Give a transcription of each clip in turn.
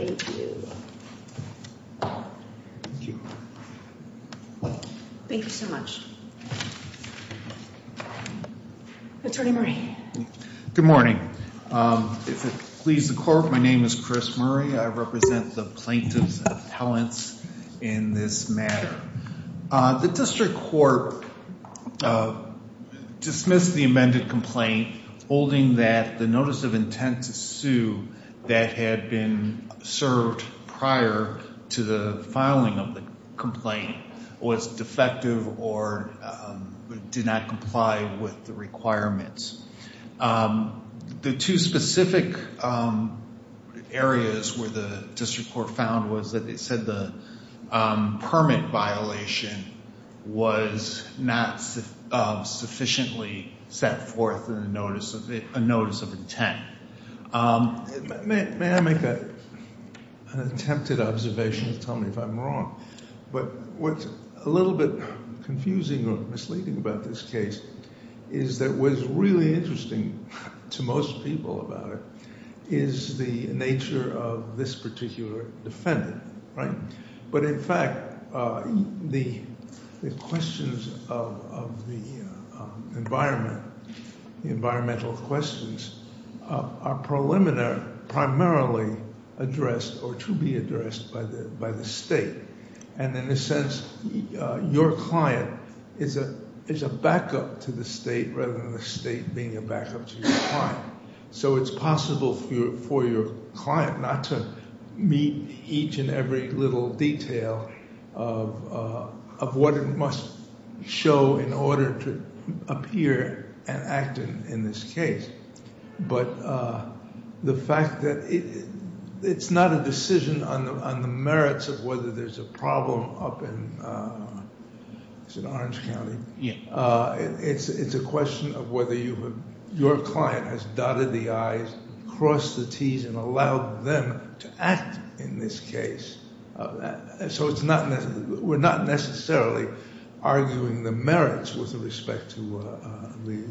Thank you. Thank you so much. Attorney Murray. Good morning. If it pleases the court, my name is Chris Murray. I represent the plaintiffs' appellants in this matter. The district court dismissed the amended complaint holding that the notice of intent to sue that had been served prior to the filing of the complaint was defective or did not comply with the requirements. The two specific areas where the district court found was that it said the permit violation was not sufficiently set forth in the notice of intent. May I make an attempted observation to tell me if I'm wrong? But what's a little bit confusing or misleading about this case is that what's really interesting to most people about it is the nature of this particular defendant, right? But in fact, the questions of the environment, the environmental questions are preliminary, primarily addressed or to be addressed by the state. And in a sense, your client is a backup to the state rather than the state being a backup to your client. So it's possible for your client not to meet each and every little detail of what it must show in order to appear and act in this case. But the fact that it's not a decision on the merits of whether there's a problem up in Orange County. It's a question of whether your client has dotted the I's, crossed the T's, and allowed them to act in this case. So we're not necessarily arguing the merits with respect to the…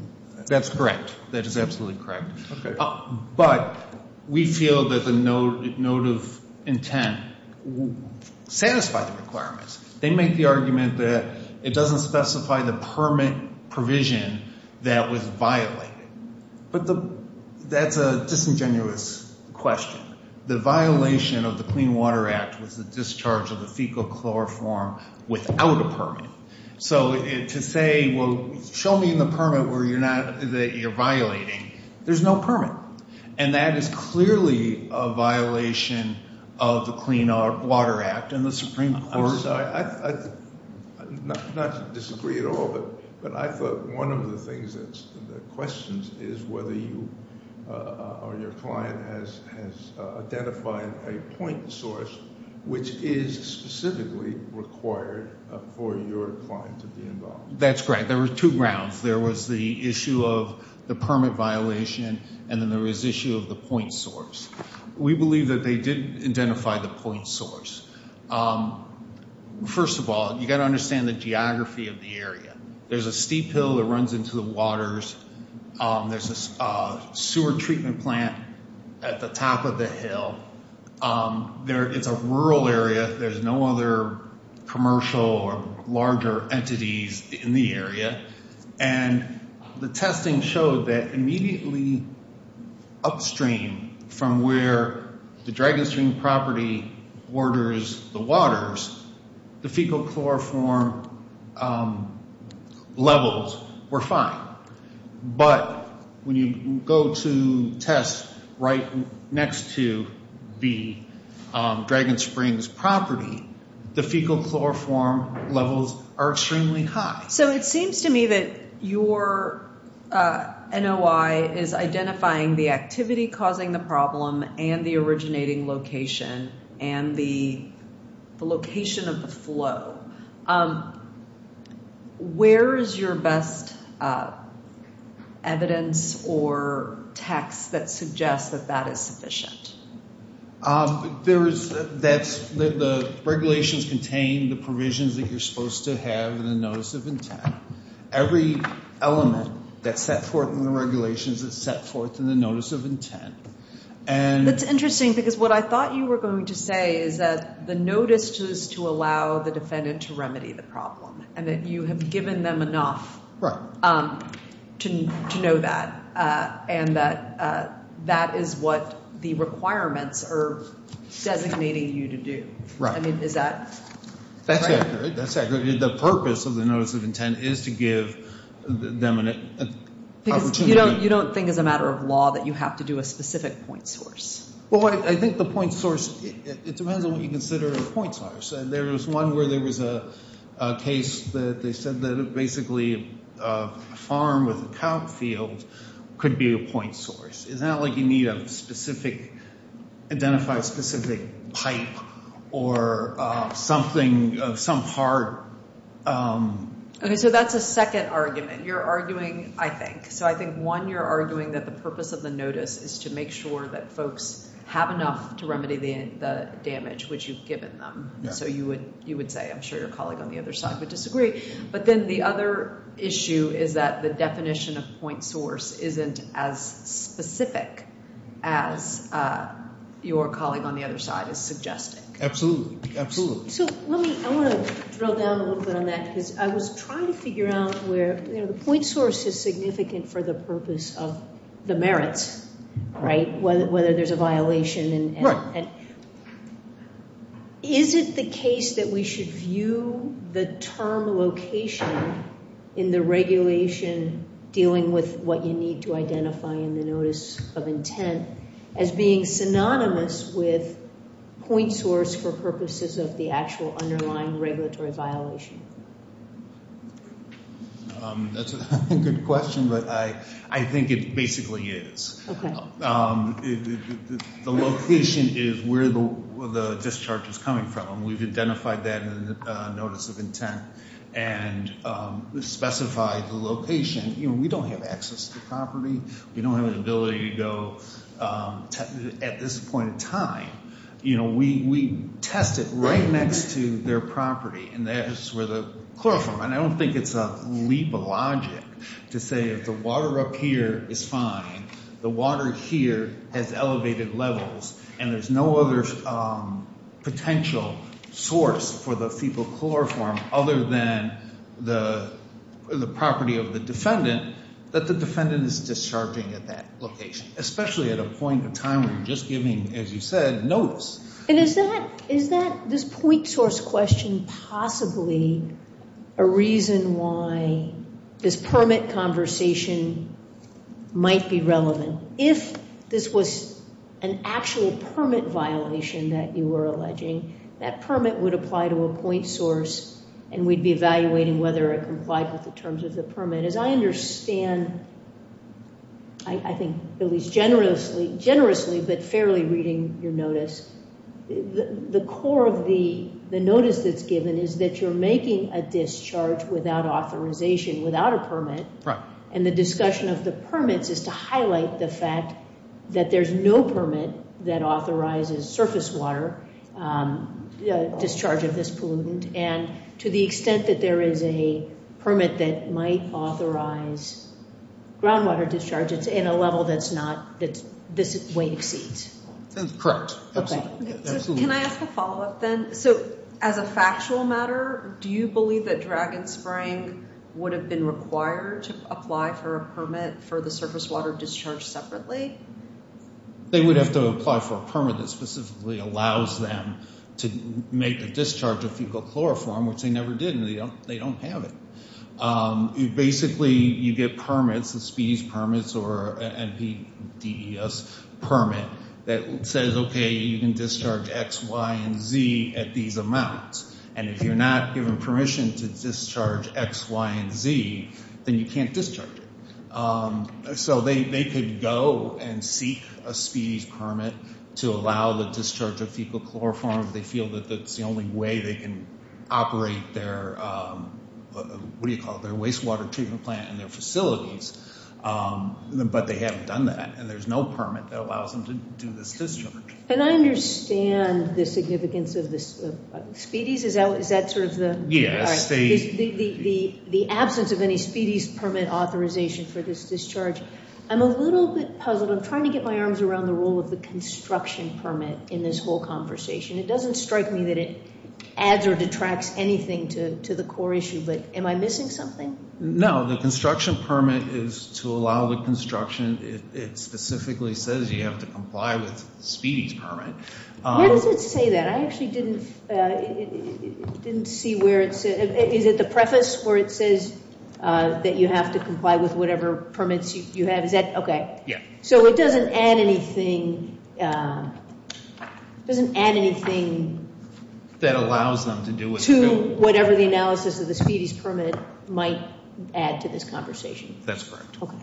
That's correct. That is absolutely correct. But we feel that the note of intent satisfies the requirements. They make the argument that it doesn't specify the permit provision that was violated. But that's a disingenuous question. The violation of the Clean Water Act was the discharge of the fecal chloroform without a permit. So to say, well, show me the permit that you're violating. There's no permit. And that is clearly a violation of the Clean Water Act and the Supreme Court. I'm sorry. Not to disagree at all. But I thought one of the questions is whether you or your client has identified a point source which is specifically required for your client to be involved. That's correct. There were two grounds. There was the issue of the permit violation, and then there was the issue of the point source. We believe that they did identify the point source. First of all, you've got to understand the geography of the area. There's a steep hill that runs into the waters. There's a sewer treatment plant at the top of the hill. It's a rural area. There's no other commercial or larger entities in the area. And the testing showed that immediately upstream from where the Dragon Spring property borders the waters, the fecal chloroform levels were fine. But when you go to test right next to the Dragon Springs property, the fecal chloroform levels are extremely high. So it seems to me that your NOI is identifying the activity causing the problem and the originating location and the location of the flow. Where is your best evidence or text that suggests that that is sufficient? The regulations contain the provisions that you're supposed to have in the notice of intent. Every element that's set forth in the regulations is set forth in the notice of intent. That's interesting because what I thought you were going to say is that the notice is to allow the defendant to remedy the problem and that you have given them enough to know that. And that is what the requirements are designating you to do. I mean, is that right? That's accurate. The purpose of the notice of intent is to give them an opportunity. You don't think as a matter of law that you have to do a specific point source? Well, I think the point source, it depends on what you consider a point source. There was one where there was a case that they said that basically a farm with a cow field could be a point source. Is that like you need a specific, identify a specific pipe or something, some part? Okay, so that's a second argument. You're arguing, I think, so I think one, you're arguing that the purpose of the notice is to make sure that folks have enough to remedy the damage which you've given them. So you would say, I'm sure your colleague on the other side would disagree. But then the other issue is that the definition of point source isn't as specific as your colleague on the other side is suggesting. Absolutely, absolutely. So let me, I want to drill down a little bit on that because I was trying to figure out where, you know, the point source is significant for the purpose of the merits, right, whether there's a violation. Right. Is it the case that we should view the term location in the regulation dealing with what you need to identify in the notice of intent as being synonymous with point source for purposes of the actual underlying regulatory violation? That's a good question, but I think it basically is. Okay. The location is where the discharge is coming from, and we've identified that in the notice of intent and specified the location. You know, we don't have access to the property. We don't have an ability to go at this point in time. You know, we test it right next to their property, and that's where the chloroform, and I don't think it's a leap of logic to say if the water up here is fine, the water here has elevated levels, and there's no other potential source for the fecal chloroform other than the property of the defendant, that the defendant is discharging at that location, especially at a point in time when you're just giving, as you said, notice. And is this point source question possibly a reason why this permit conversation might be relevant? If this was an actual permit violation that you were alleging, that permit would apply to a point source, and we'd be evaluating whether it complied with the terms of the permit. As I understand, I think at least generously but fairly reading your notice, the core of the notice that's given is that you're making a discharge without authorization, without a permit, and the discussion of the permits is to highlight the fact that there's no permit that authorizes surface water discharge of this pollutant. And to the extent that there is a permit that might authorize groundwater discharge, it's in a level that's not, that this way exceeds. Correct. Absolutely. Can I ask a follow-up then? So as a factual matter, do you believe that Dragonspring would have been required to apply for a permit for the surface water discharge separately? They would have to apply for a permit that specifically allows them to make a discharge of fecal chloroform, which they never did, and they don't have it. Basically, you get permits, the species permits or NPDES permit that says, okay, you can discharge X, Y, and Z at these amounts. And if you're not given permission to discharge X, Y, and Z, then you can't discharge it. So they could go and seek a species permit to allow the discharge of fecal chloroform if they feel that that's the only way they can operate their, what do you call it, their wastewater treatment plant and their facilities, but they haven't done that, and there's no permit that allows them to do this discharge. And I understand the significance of the speedies. Is that sort of the absence of any speedies permit authorization for this discharge? I'm a little bit puzzled. I'm trying to get my arms around the role of the construction permit in this whole conversation. It doesn't strike me that it adds or detracts anything to the core issue, but am I missing something? No, the construction permit is to allow the construction, it specifically says you have to comply with speedies permit. Where does it say that? I actually didn't see where it said, is it the preface where it says that you have to comply with whatever permits you have? Is that, okay. Yeah. So it doesn't add anything, it doesn't add anything. That allows them to do it. To whatever the analysis of the speedies permit might add to this conversation. That's correct. Okay.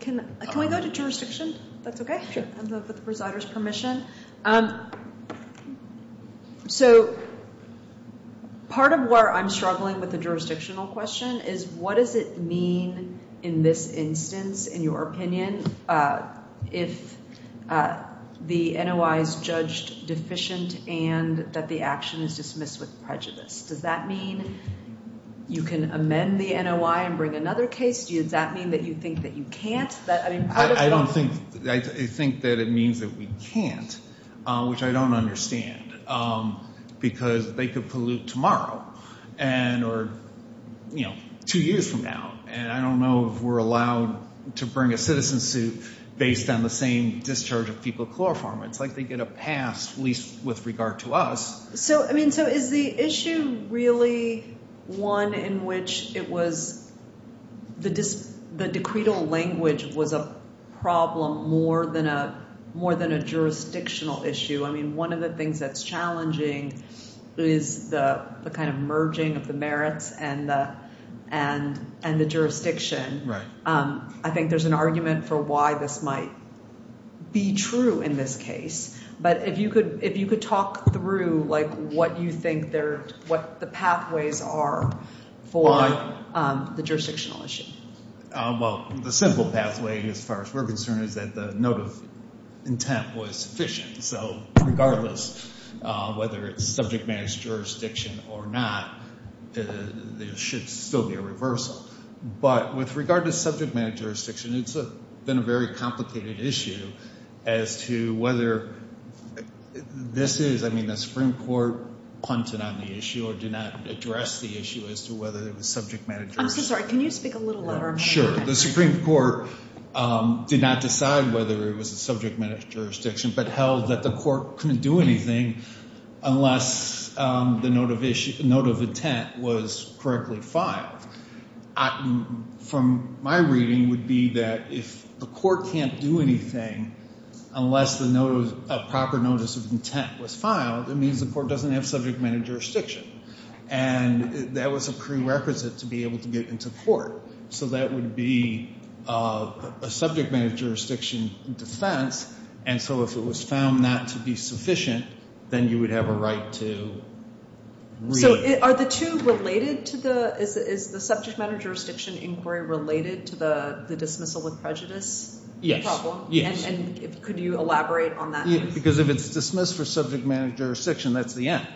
Can we go to jurisdiction? That's okay? Sure. With the presider's permission. So part of where I'm struggling with the jurisdictional question is what does it mean in this instance, in your opinion, if the NOI is judged deficient and that the action is dismissed with prejudice? Does that mean you can amend the NOI and bring another case? Does that mean that you think that you can't? I think that it means that we can't, which I don't understand, because they could pollute tomorrow or two years from now, and I don't know if we're allowed to bring a citizen suit based on the same discharge of people chloroform. It's like they get a pass, at least with regard to us. Is the issue really one in which the decretal language was a problem more than a jurisdictional issue? One of the things that's challenging is the merging of the merits and the jurisdiction. I think there's an argument for why this might be true in this case, but if you could talk through what you think the pathways are for the jurisdictional issue. Well, the simple pathway, as far as we're concerned, is that the note of intent was sufficient. So regardless whether it's subject matter jurisdiction or not, there should still be a reversal. But with regard to subject matter jurisdiction, it's been a very complicated issue as to whether this is, I mean, the Supreme Court punted on the issue or did not address the issue as to whether it was subject matter jurisdiction. I'm so sorry. Can you speak a little louder? Sure. The Supreme Court did not decide whether it was a subject matter jurisdiction, but held that the court couldn't do anything unless the note of intent was correctly filed. From my reading, it would be that if the court can't do anything unless a proper notice of intent was filed, it means the court doesn't have subject matter jurisdiction. And that was a prerequisite to be able to get into court. So that would be a subject matter jurisdiction defense. And so if it was found not to be sufficient, then you would have a right to read. So are the two related to the – is the subject matter jurisdiction inquiry related to the dismissal with prejudice problem? And could you elaborate on that? Because if it's dismissed for subject matter jurisdiction, that's the end.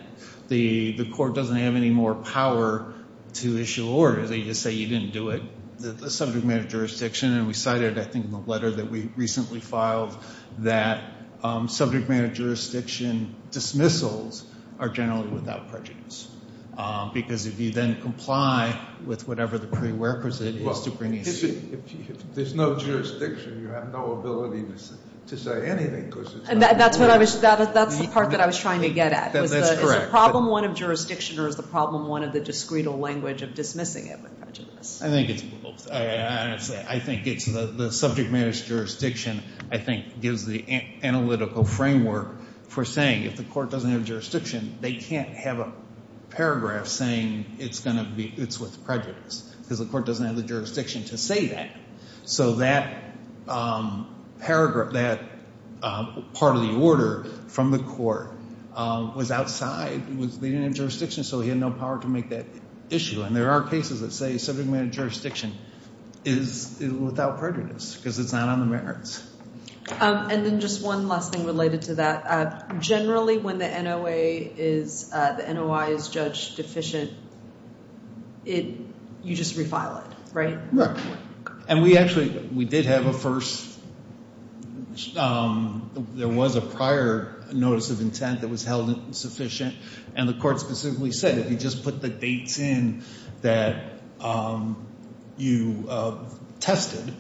The court doesn't have any more power to issue orders. They just say you didn't do it, the subject matter jurisdiction. And we cited, I think, in the letter that we recently filed, that subject matter jurisdiction dismissals are generally without prejudice. Because if you then comply with whatever the prerequisite is to bring – If there's no jurisdiction, you have no ability to say anything because it's not – That's what I was – that's the part that I was trying to get at. That's correct. Is the problem one of jurisdiction or is the problem one of the discreet language of dismissing it with prejudice? I think it's both. I think it's the subject matter jurisdiction, I think, gives the analytical framework for saying if the court doesn't have jurisdiction, they can't have a paragraph saying it's going to be – it's with prejudice because the court doesn't have the jurisdiction to say that. So that paragraph – that part of the order from the court was outside, was leading in jurisdiction, so he had no power to make that issue. And there are cases that say subject matter jurisdiction is without prejudice because it's not on the merits. And then just one last thing related to that. Generally, when the NOA is – the NOI is judge deficient, you just refile it, right? Right. And we actually – we did have a first – there was a prior notice of intent that was held insufficient, and the court specifically said if you just put the dates in that you tested,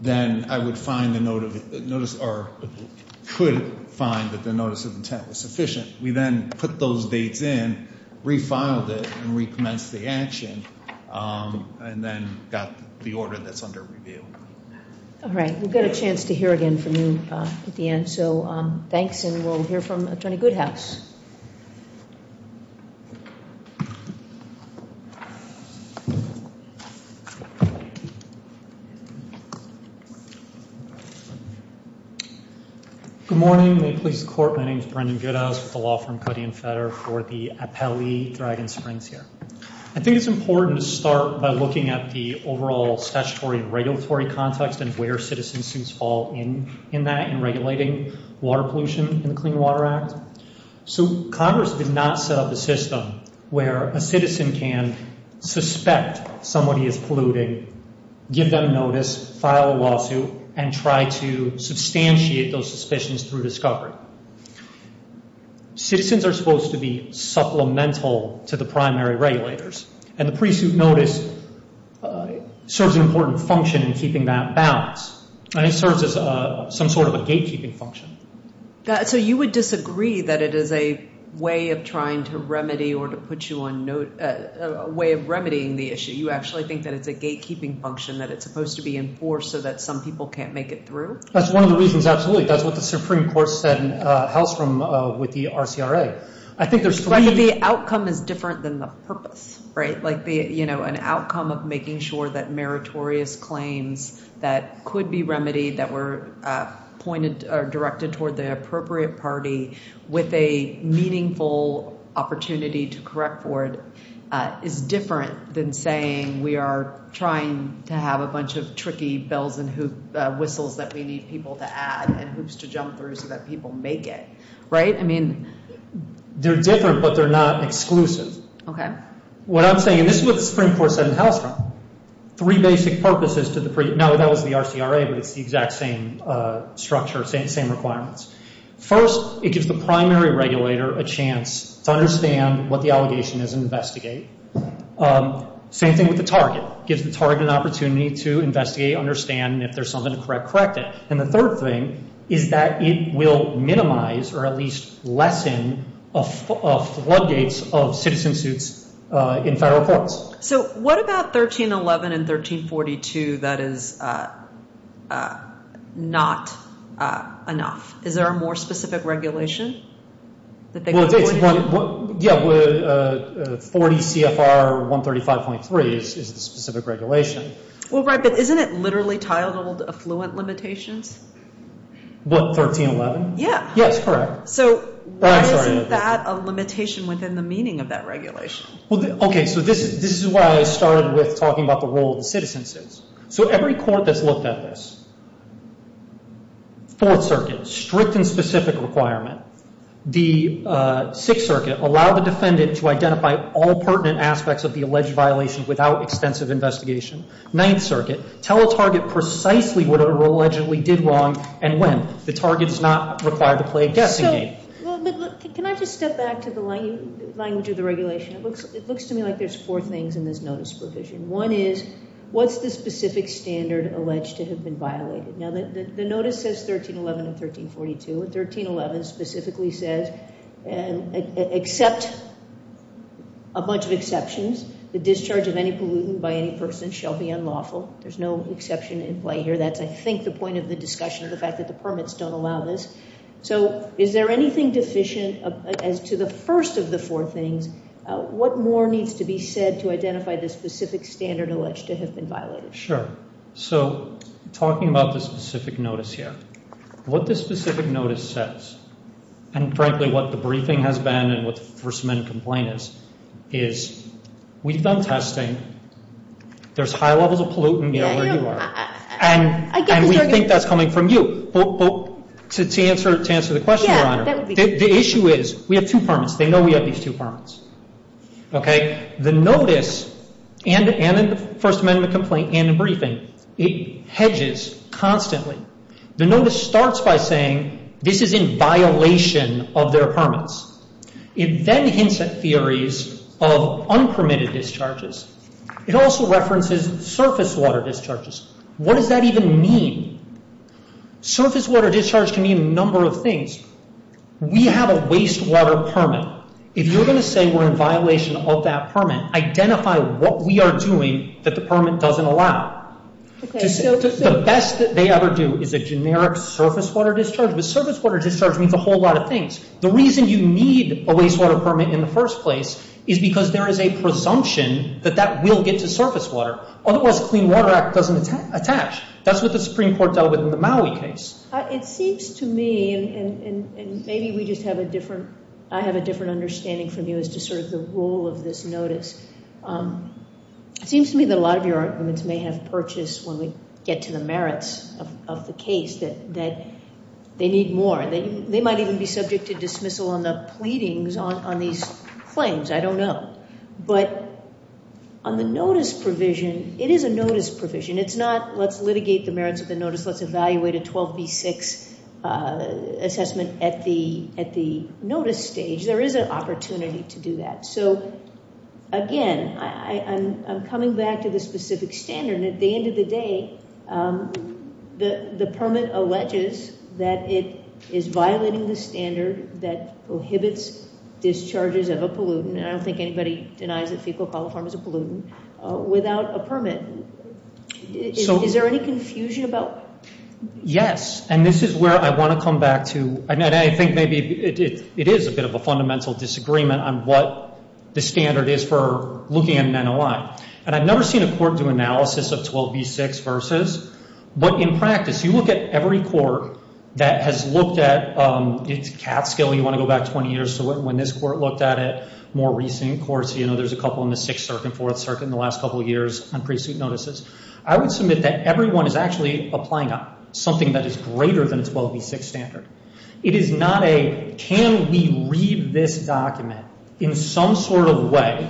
then I would find the notice – or could find that the notice of intent was sufficient. We then put those dates in, refiled it, and recommenced the action, and then got the order that's under review. All right. We'll get a chance to hear again from you at the end. So thanks, and we'll hear from Attorney Goodhouse. Good morning. May it please the Court, my name is Brendan Goodhouse. I'm with the law firm Cuddy and Fetter for the Appellee Dragon Springs here. I think it's important to start by looking at the overall statutory and regulatory context and where citizens fall in that in regulating water pollution in the Clean Water Act. So Congress did not set up a system where a citizen can suspect somebody is polluting, give them notice, file a lawsuit, and try to substantiate those suspicions through discovery. Citizens are supposed to be supplemental to the primary regulators, and the pre-suit notice serves an important function in keeping that balance, and it serves as some sort of a gatekeeping function. So you would disagree that it is a way of trying to remedy or to put you on note – a way of remedying the issue. You actually think that it's a gatekeeping function, that it's supposed to be enforced so that some people can't make it through? That's one of the reasons, absolutely. That's what the Supreme Court said in House with the RCRA. I think there's – But the outcome is different than the purpose, right? Like, you know, an outcome of making sure that meritorious claims that could be remedied, that were pointed or directed toward the appropriate party with a meaningful opportunity to correct for it, is different than saying we are trying to have a bunch of tricky bells and whistles that we need people to add and hoops to jump through so that people make it, right? I mean – They're different, but they're not exclusive. Okay. What I'm saying – and this is what the Supreme Court said in House, three basic purposes to the – no, that was the RCRA, but it's the exact same structure, same requirements. First, it gives the primary regulator a chance to understand what the allegation is and investigate. Same thing with the target. It gives the target an opportunity to investigate, understand, and if there's something to correct, correct it. And the third thing is that it will minimize or at least lessen floodgates of citizen suits in federal courts. So what about 1311 and 1342? That is not enough. Is there a more specific regulation? Well, it's – yeah, 40 CFR 135.3 is the specific regulation. Well, right, but isn't it literally titled affluent limitations? What, 1311? Yeah. Yes, correct. So why isn't that a limitation within the meaning of that regulation? Well, okay, so this is why I started with talking about the role of the citizen suits. So every court that's looked at this, Fourth Circuit, strict and specific requirement. The Sixth Circuit, allow the defendant to identify all pertinent aspects of the alleged violation without extensive investigation. Ninth Circuit, tell a target precisely what it allegedly did wrong and when. The target is not required to play a guessing game. Can I just step back to the language of the regulation? It looks to me like there's four things in this notice provision. One is what's the specific standard alleged to have been violated? Now, the notice says 1311 and 1342. 1311 specifically says except a bunch of exceptions, the discharge of any pollutant by any person shall be unlawful. There's no exception in play here. That's, I think, the point of the discussion, the fact that the permits don't allow this. So is there anything deficient as to the first of the four things? What more needs to be said to identify the specific standard alleged to have been violated? So talking about the specific notice here, what this specific notice says and, frankly, what the briefing has been and what the First Amendment complaint is, is we've done testing. There's high levels of pollutant. We know where you are. And we think that's coming from you. But to answer the question, Your Honor, the issue is we have two permits. They know we have these two permits. Okay? The notice and the First Amendment complaint and the briefing, it hedges constantly. The notice starts by saying this is in violation of their permits. It then hints at theories of unpermitted discharges. It also references surface water discharges. What does that even mean? Surface water discharge can mean a number of things. We have a wastewater permit. If you're going to say we're in violation of that permit, identify what we are doing that the permit doesn't allow. The best that they ever do is a generic surface water discharge. But surface water discharge means a whole lot of things. The reason you need a wastewater permit in the first place is because there is a presumption that that will get to surface water. Otherwise, the Clean Water Act doesn't attach. That's what the Supreme Court dealt with in the Maui case. It seems to me, and maybe we just have a different ‑‑ I have a different understanding from you as to sort of the role of this notice. It seems to me that a lot of your arguments may have purchased when we get to the merits of the case that they need more. They might even be subject to dismissal on the pleadings on these claims. I don't know. But on the notice provision, it is a notice provision. It's not let's litigate the merits of the notice, let's evaluate a 12B6 assessment at the notice stage. There is an opportunity to do that. Again, I'm coming back to the specific standard. At the end of the day, the permit alleges that it is violating the standard that prohibits discharges of a pollutant. I don't think anybody denies that fecal coliform is a pollutant without a permit. Is there any confusion about that? Yes. And this is where I want to come back to, and I think maybe it is a bit of a fundamental disagreement on what the standard is for looking at an NOI. And I've never seen a court do analysis of 12B6 versus. But in practice, you look at every court that has looked at, it's Catskill, you want to go back 20 years to when this court looked at it. More recent courts, you know, there's a couple in the Sixth Circuit and Fourth Circuit in the last couple of years on pre-suit notices. I would submit that everyone is actually applying something that is greater than a 12B6 standard. It is not a can we read this document in some sort of way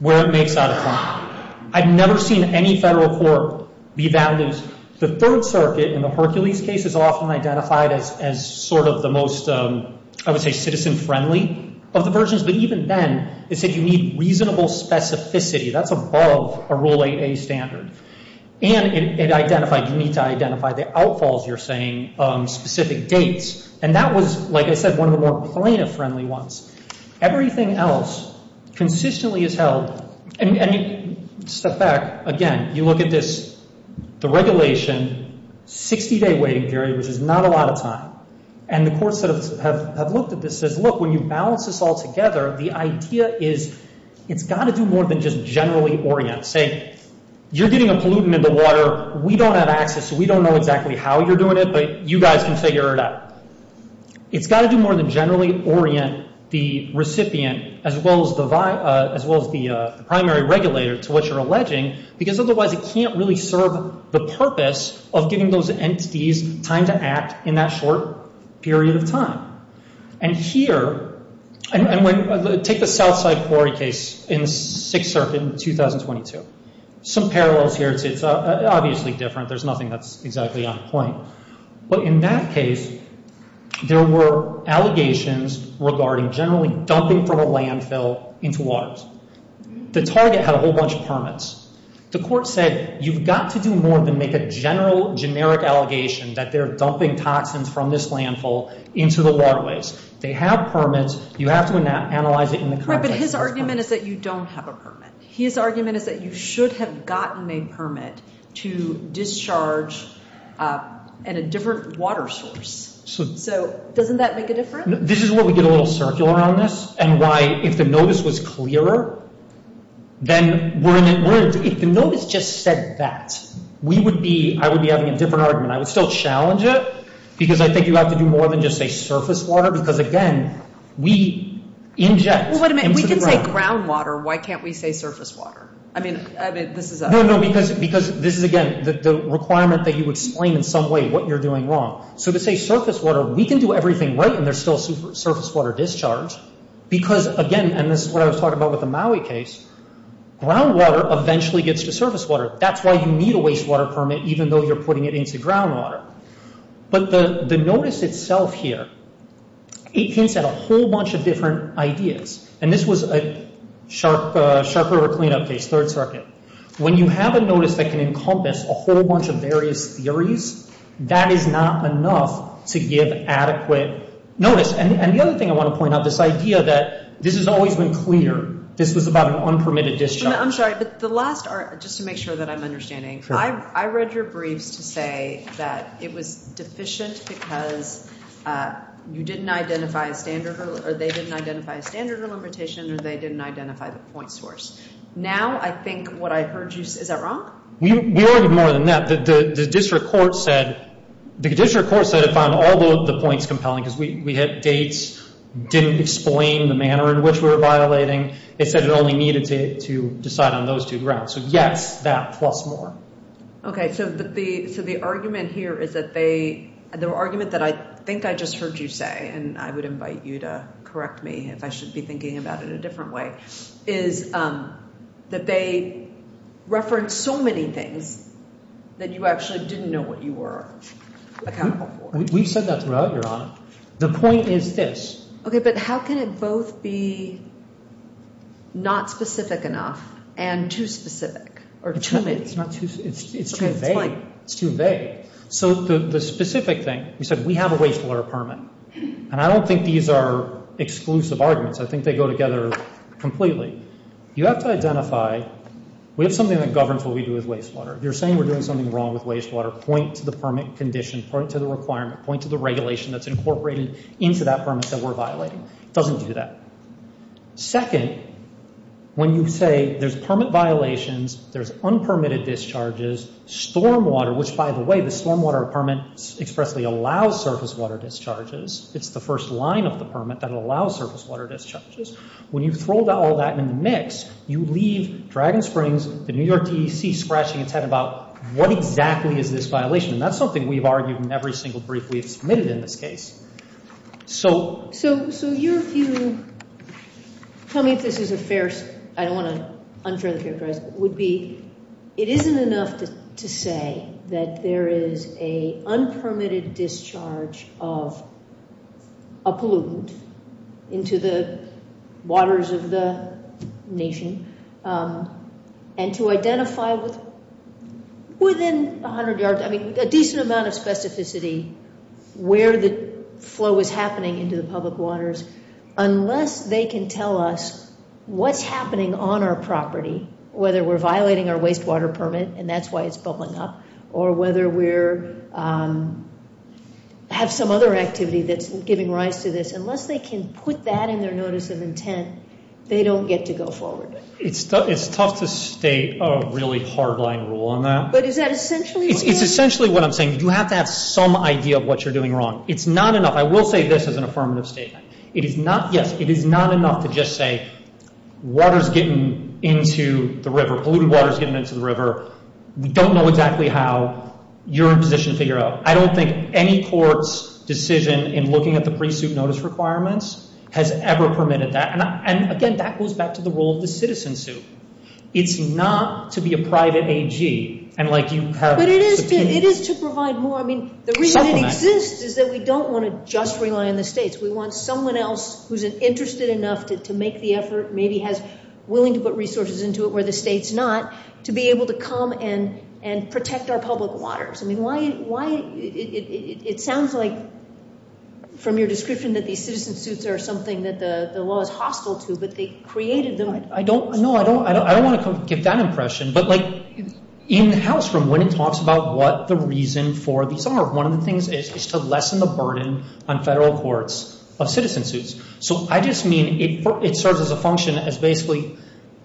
where it makes out a claim. I've never seen any federal court be that loose. The Third Circuit in the Hercules case is often identified as sort of the most, I would say, citizen-friendly of the versions. But even then, it said you need reasonable specificity. That's above a Rule 8A standard. And it identified, you need to identify the outfalls, you're saying, specific dates. And that was, like I said, one of the more plaintiff-friendly ones. Everything else consistently is held. And you step back. Again, you look at this, the regulation, 60-day waiting period, which is not a lot of time. And the courts that have looked at this says, look, when you balance this all together, the idea is it's got to do more than just generally orient. Say, you're getting a pollutant in the water. We don't have access, so we don't know exactly how you're doing it, but you guys can figure it out. It's got to do more than generally orient the recipient as well as the primary regulator to what you're alleging, because otherwise it can't really serve the purpose of giving those entities time to act in that short period of time. And here, take the Southside quarry case in the Sixth Circuit in 2022. Some parallels here. It's obviously different. There's nothing that's exactly on point. But in that case, there were allegations regarding generally dumping from a landfill into waters. The target had a whole bunch of permits. The court said, you've got to do more than make a general, generic allegation that they're dumping toxins from this landfill into the waterways. They have permits. You have to analyze it in the context of this permit. Right, but his argument is that you don't have a permit. His argument is that you should have gotten a permit to discharge at a different water source. So doesn't that make a difference? This is where we get a little circular on this and why, if the notice was clearer, then we're in it. If the notice just said that, I would be having a different argument. I would still challenge it, because I think you have to do more than just say surface water, because, again, we inject into the ground. Well, wait a minute. If we can say groundwater, why can't we say surface water? I mean, this is a – No, no, because this is, again, the requirement that you explain in some way what you're doing wrong. So to say surface water, we can do everything right and there's still surface water discharge, because, again, and this is what I was talking about with the Maui case, groundwater eventually gets to surface water. That's why you need a wastewater permit, even though you're putting it into groundwater. But the notice itself here, it hints at a whole bunch of different ideas. And this was a Shark River cleanup case, Third Circuit. When you have a notice that can encompass a whole bunch of various theories, that is not enough to give adequate notice. And the other thing I want to point out, this idea that this has always been clear. This was about an unpermitted discharge. I'm sorry, but the last – just to make sure that I'm understanding. I read your briefs to say that it was deficient because you didn't identify a standard – or they didn't identify a standard limitation or they didn't identify the point source. Now I think what I heard you – is that wrong? We argued more than that. The district court said it found all the points compelling because we had dates, didn't explain the manner in which we were violating. It said it only needed to decide on those two grounds. So yes, that plus more. Okay. So the argument here is that they – the argument that I think I just heard you say, and I would invite you to correct me if I should be thinking about it a different way, is that they referenced so many things that you actually didn't know what you were accountable for. We've said that throughout, Your Honor. The point is this. Okay, but how can it both be not specific enough and too specific or too vague? It's too vague. It's too vague. So the specific thing, we said we have a wastewater permit, and I don't think these are exclusive arguments. I think they go together completely. You have to identify – we have something that governs what we do with wastewater. If you're saying we're doing something wrong with wastewater, point to the permit condition, point to the requirement, point to the regulation that's incorporated into that permit that we're violating. It doesn't do that. Second, when you say there's permit violations, there's unpermitted discharges, stormwater, which, by the way, the stormwater permit expressly allows surface water discharges. It's the first line of the permit that allows surface water discharges. When you throw all that in the mix, you leave Dragon Springs, the New York D.C., scratching its head about what exactly is this violation, and that's something we've argued in every single brief we've submitted in this case. So your view – tell me if this is a fair – I don't want to unfairly characterize – would be it isn't enough to say that there is an unpermitted discharge of a pollutant into the waters of the nation, and to identify within 100 yards – into the public waters, unless they can tell us what's happening on our property, whether we're violating our wastewater permit, and that's why it's bubbling up, or whether we're – have some other activity that's giving rise to this. Unless they can put that in their notice of intent, they don't get to go forward. It's tough to state a really hard-line rule on that. But is that essentially what you're saying? It's essentially what I'm saying. You have to have some idea of what you're doing wrong. It's not enough – I will say this as an affirmative statement. It is not – yes, it is not enough to just say water's getting into the river, polluted water's getting into the river. We don't know exactly how. You're in a position to figure out. I don't think any court's decision in looking at the pre-suit notice requirements has ever permitted that. And, again, that goes back to the role of the citizen suit. It's not to be a private AG, and like you have – But it is to provide more. I mean, the reason it exists is that we don't want to just rely on the states. We want someone else who's interested enough to make the effort, maybe is willing to put resources into it where the state's not, to be able to come and protect our public waters. I mean, why – it sounds like, from your description, that these citizen suits are something that the law is hostile to, but they created them. I don't – no, I don't want to give that impression. But, like, in the House room, when it talks about what the reason for these are, one of the things is to lessen the burden on federal courts of citizen suits. So I just mean it serves as a function as basically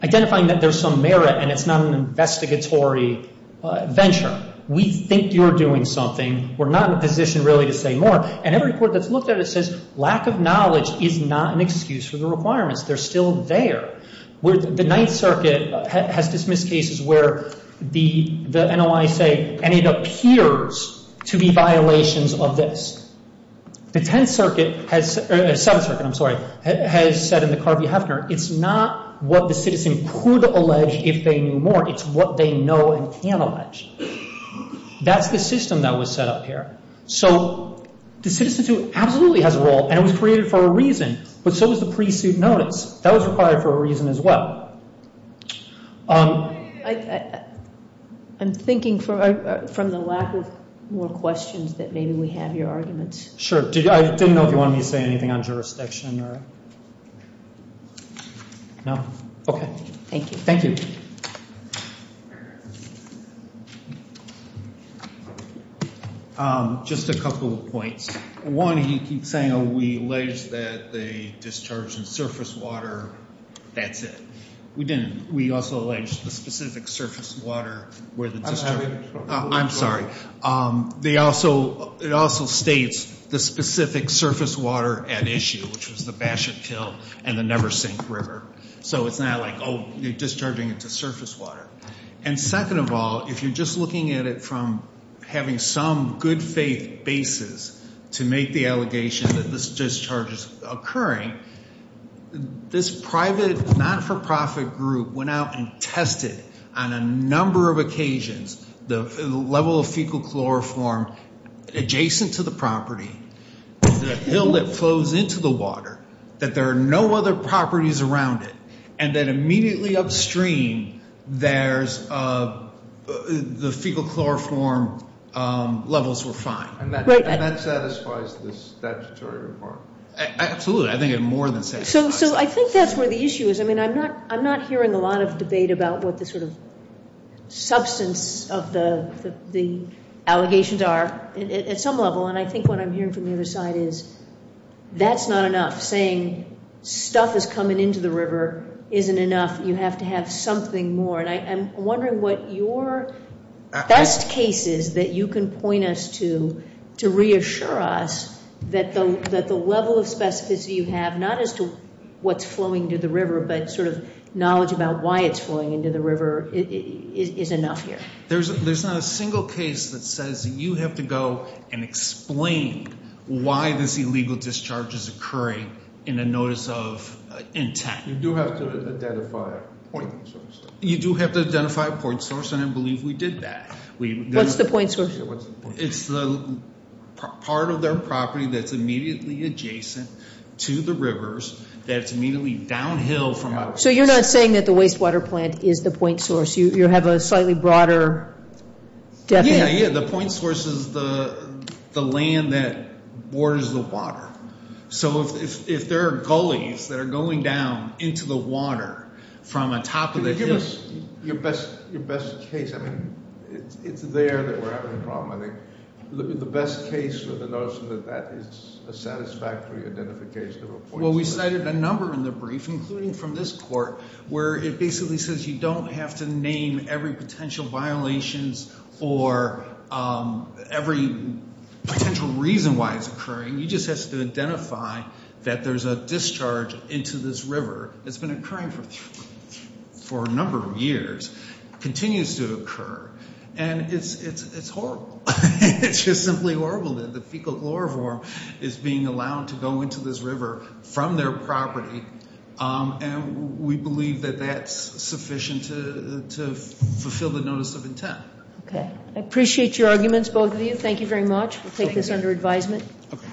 identifying that there's some merit and it's not an investigatory venture. We think you're doing something. We're not in a position really to say more. And every court that's looked at it says lack of knowledge is not an excuse for the requirements. They're still there. The Ninth Circuit has dismissed cases where the NOI say, and it appears to be violations of this. The Tenth Circuit has – or Seventh Circuit, I'm sorry, has said in the Carvey-Hefner, it's not what the citizen could allege if they knew more. It's what they know and can allege. That's the system that was set up here. So the citizen suit absolutely has a role, and it was created for a reason, but so was the pre-suit notice. That was required for a reason as well. I'm thinking from the lack of more questions that maybe we have your arguments. Sure. I didn't know if you wanted me to say anything on jurisdiction or – no? Okay. Thank you. Thank you. Just a couple of points. One, he keeps saying, oh, we allege that they discharged in surface water. That's it. We didn't. We also allege the specific surface water where the – I'm sorry. They also – it also states the specific surface water at issue, which was the Basher Kill and the Never Sink River. So it's not like, oh, you're discharging it to surface water. And second of all, if you're just looking at it from having some good faith basis to make the allegation that this discharge is occurring, this private not-for-profit group went out and tested on a number of occasions the level of fecal chloroform adjacent to the property, the hill that flows into the water, that there are no other properties around it, and then immediately upstream there's the fecal chloroform levels were fine. And that satisfies the statutory report. Absolutely. I think it more than satisfies. So I think that's where the issue is. I mean, I'm not hearing a lot of debate about what the sort of substance of the allegations are at some level, and I think what I'm hearing from the other side is that's not enough, saying stuff is coming into the river isn't enough, you have to have something more. And I'm wondering what your best case is that you can point us to, to reassure us that the level of specificity you have, not as to what's flowing into the river, but sort of knowledge about why it's flowing into the river is enough here. There's not a single case that says you have to go and explain why this illegal discharge is occurring in a notice of intent. You do have to identify a point source. You do have to identify a point source, and I believe we did that. What's the point source? It's the part of their property that's immediately adjacent to the rivers, that it's immediately downhill from out. So you're not saying that the wastewater plant is the point source. You have a slightly broader definition. Yeah, yeah, the point source is the land that borders the water. So if there are gullies that are going down into the water from on top of the hills- Can you give us your best case? I mean, it's there that we're having a problem, I think. The best case for the notion that that is a satisfactory identification of a point source. Well, we cited a number in the brief, including from this court, where it basically says you don't have to name every potential violations or every potential reason why it's occurring. You just have to identify that there's a discharge into this river. It's been occurring for a number of years. It continues to occur, and it's horrible. It's just simply horrible that the fecal chloroform is being allowed to go into this river from their property. And we believe that that's sufficient to fulfill the notice of intent. Okay. I appreciate your arguments, both of you. Thank you very much. We'll take this under advisement. Okay.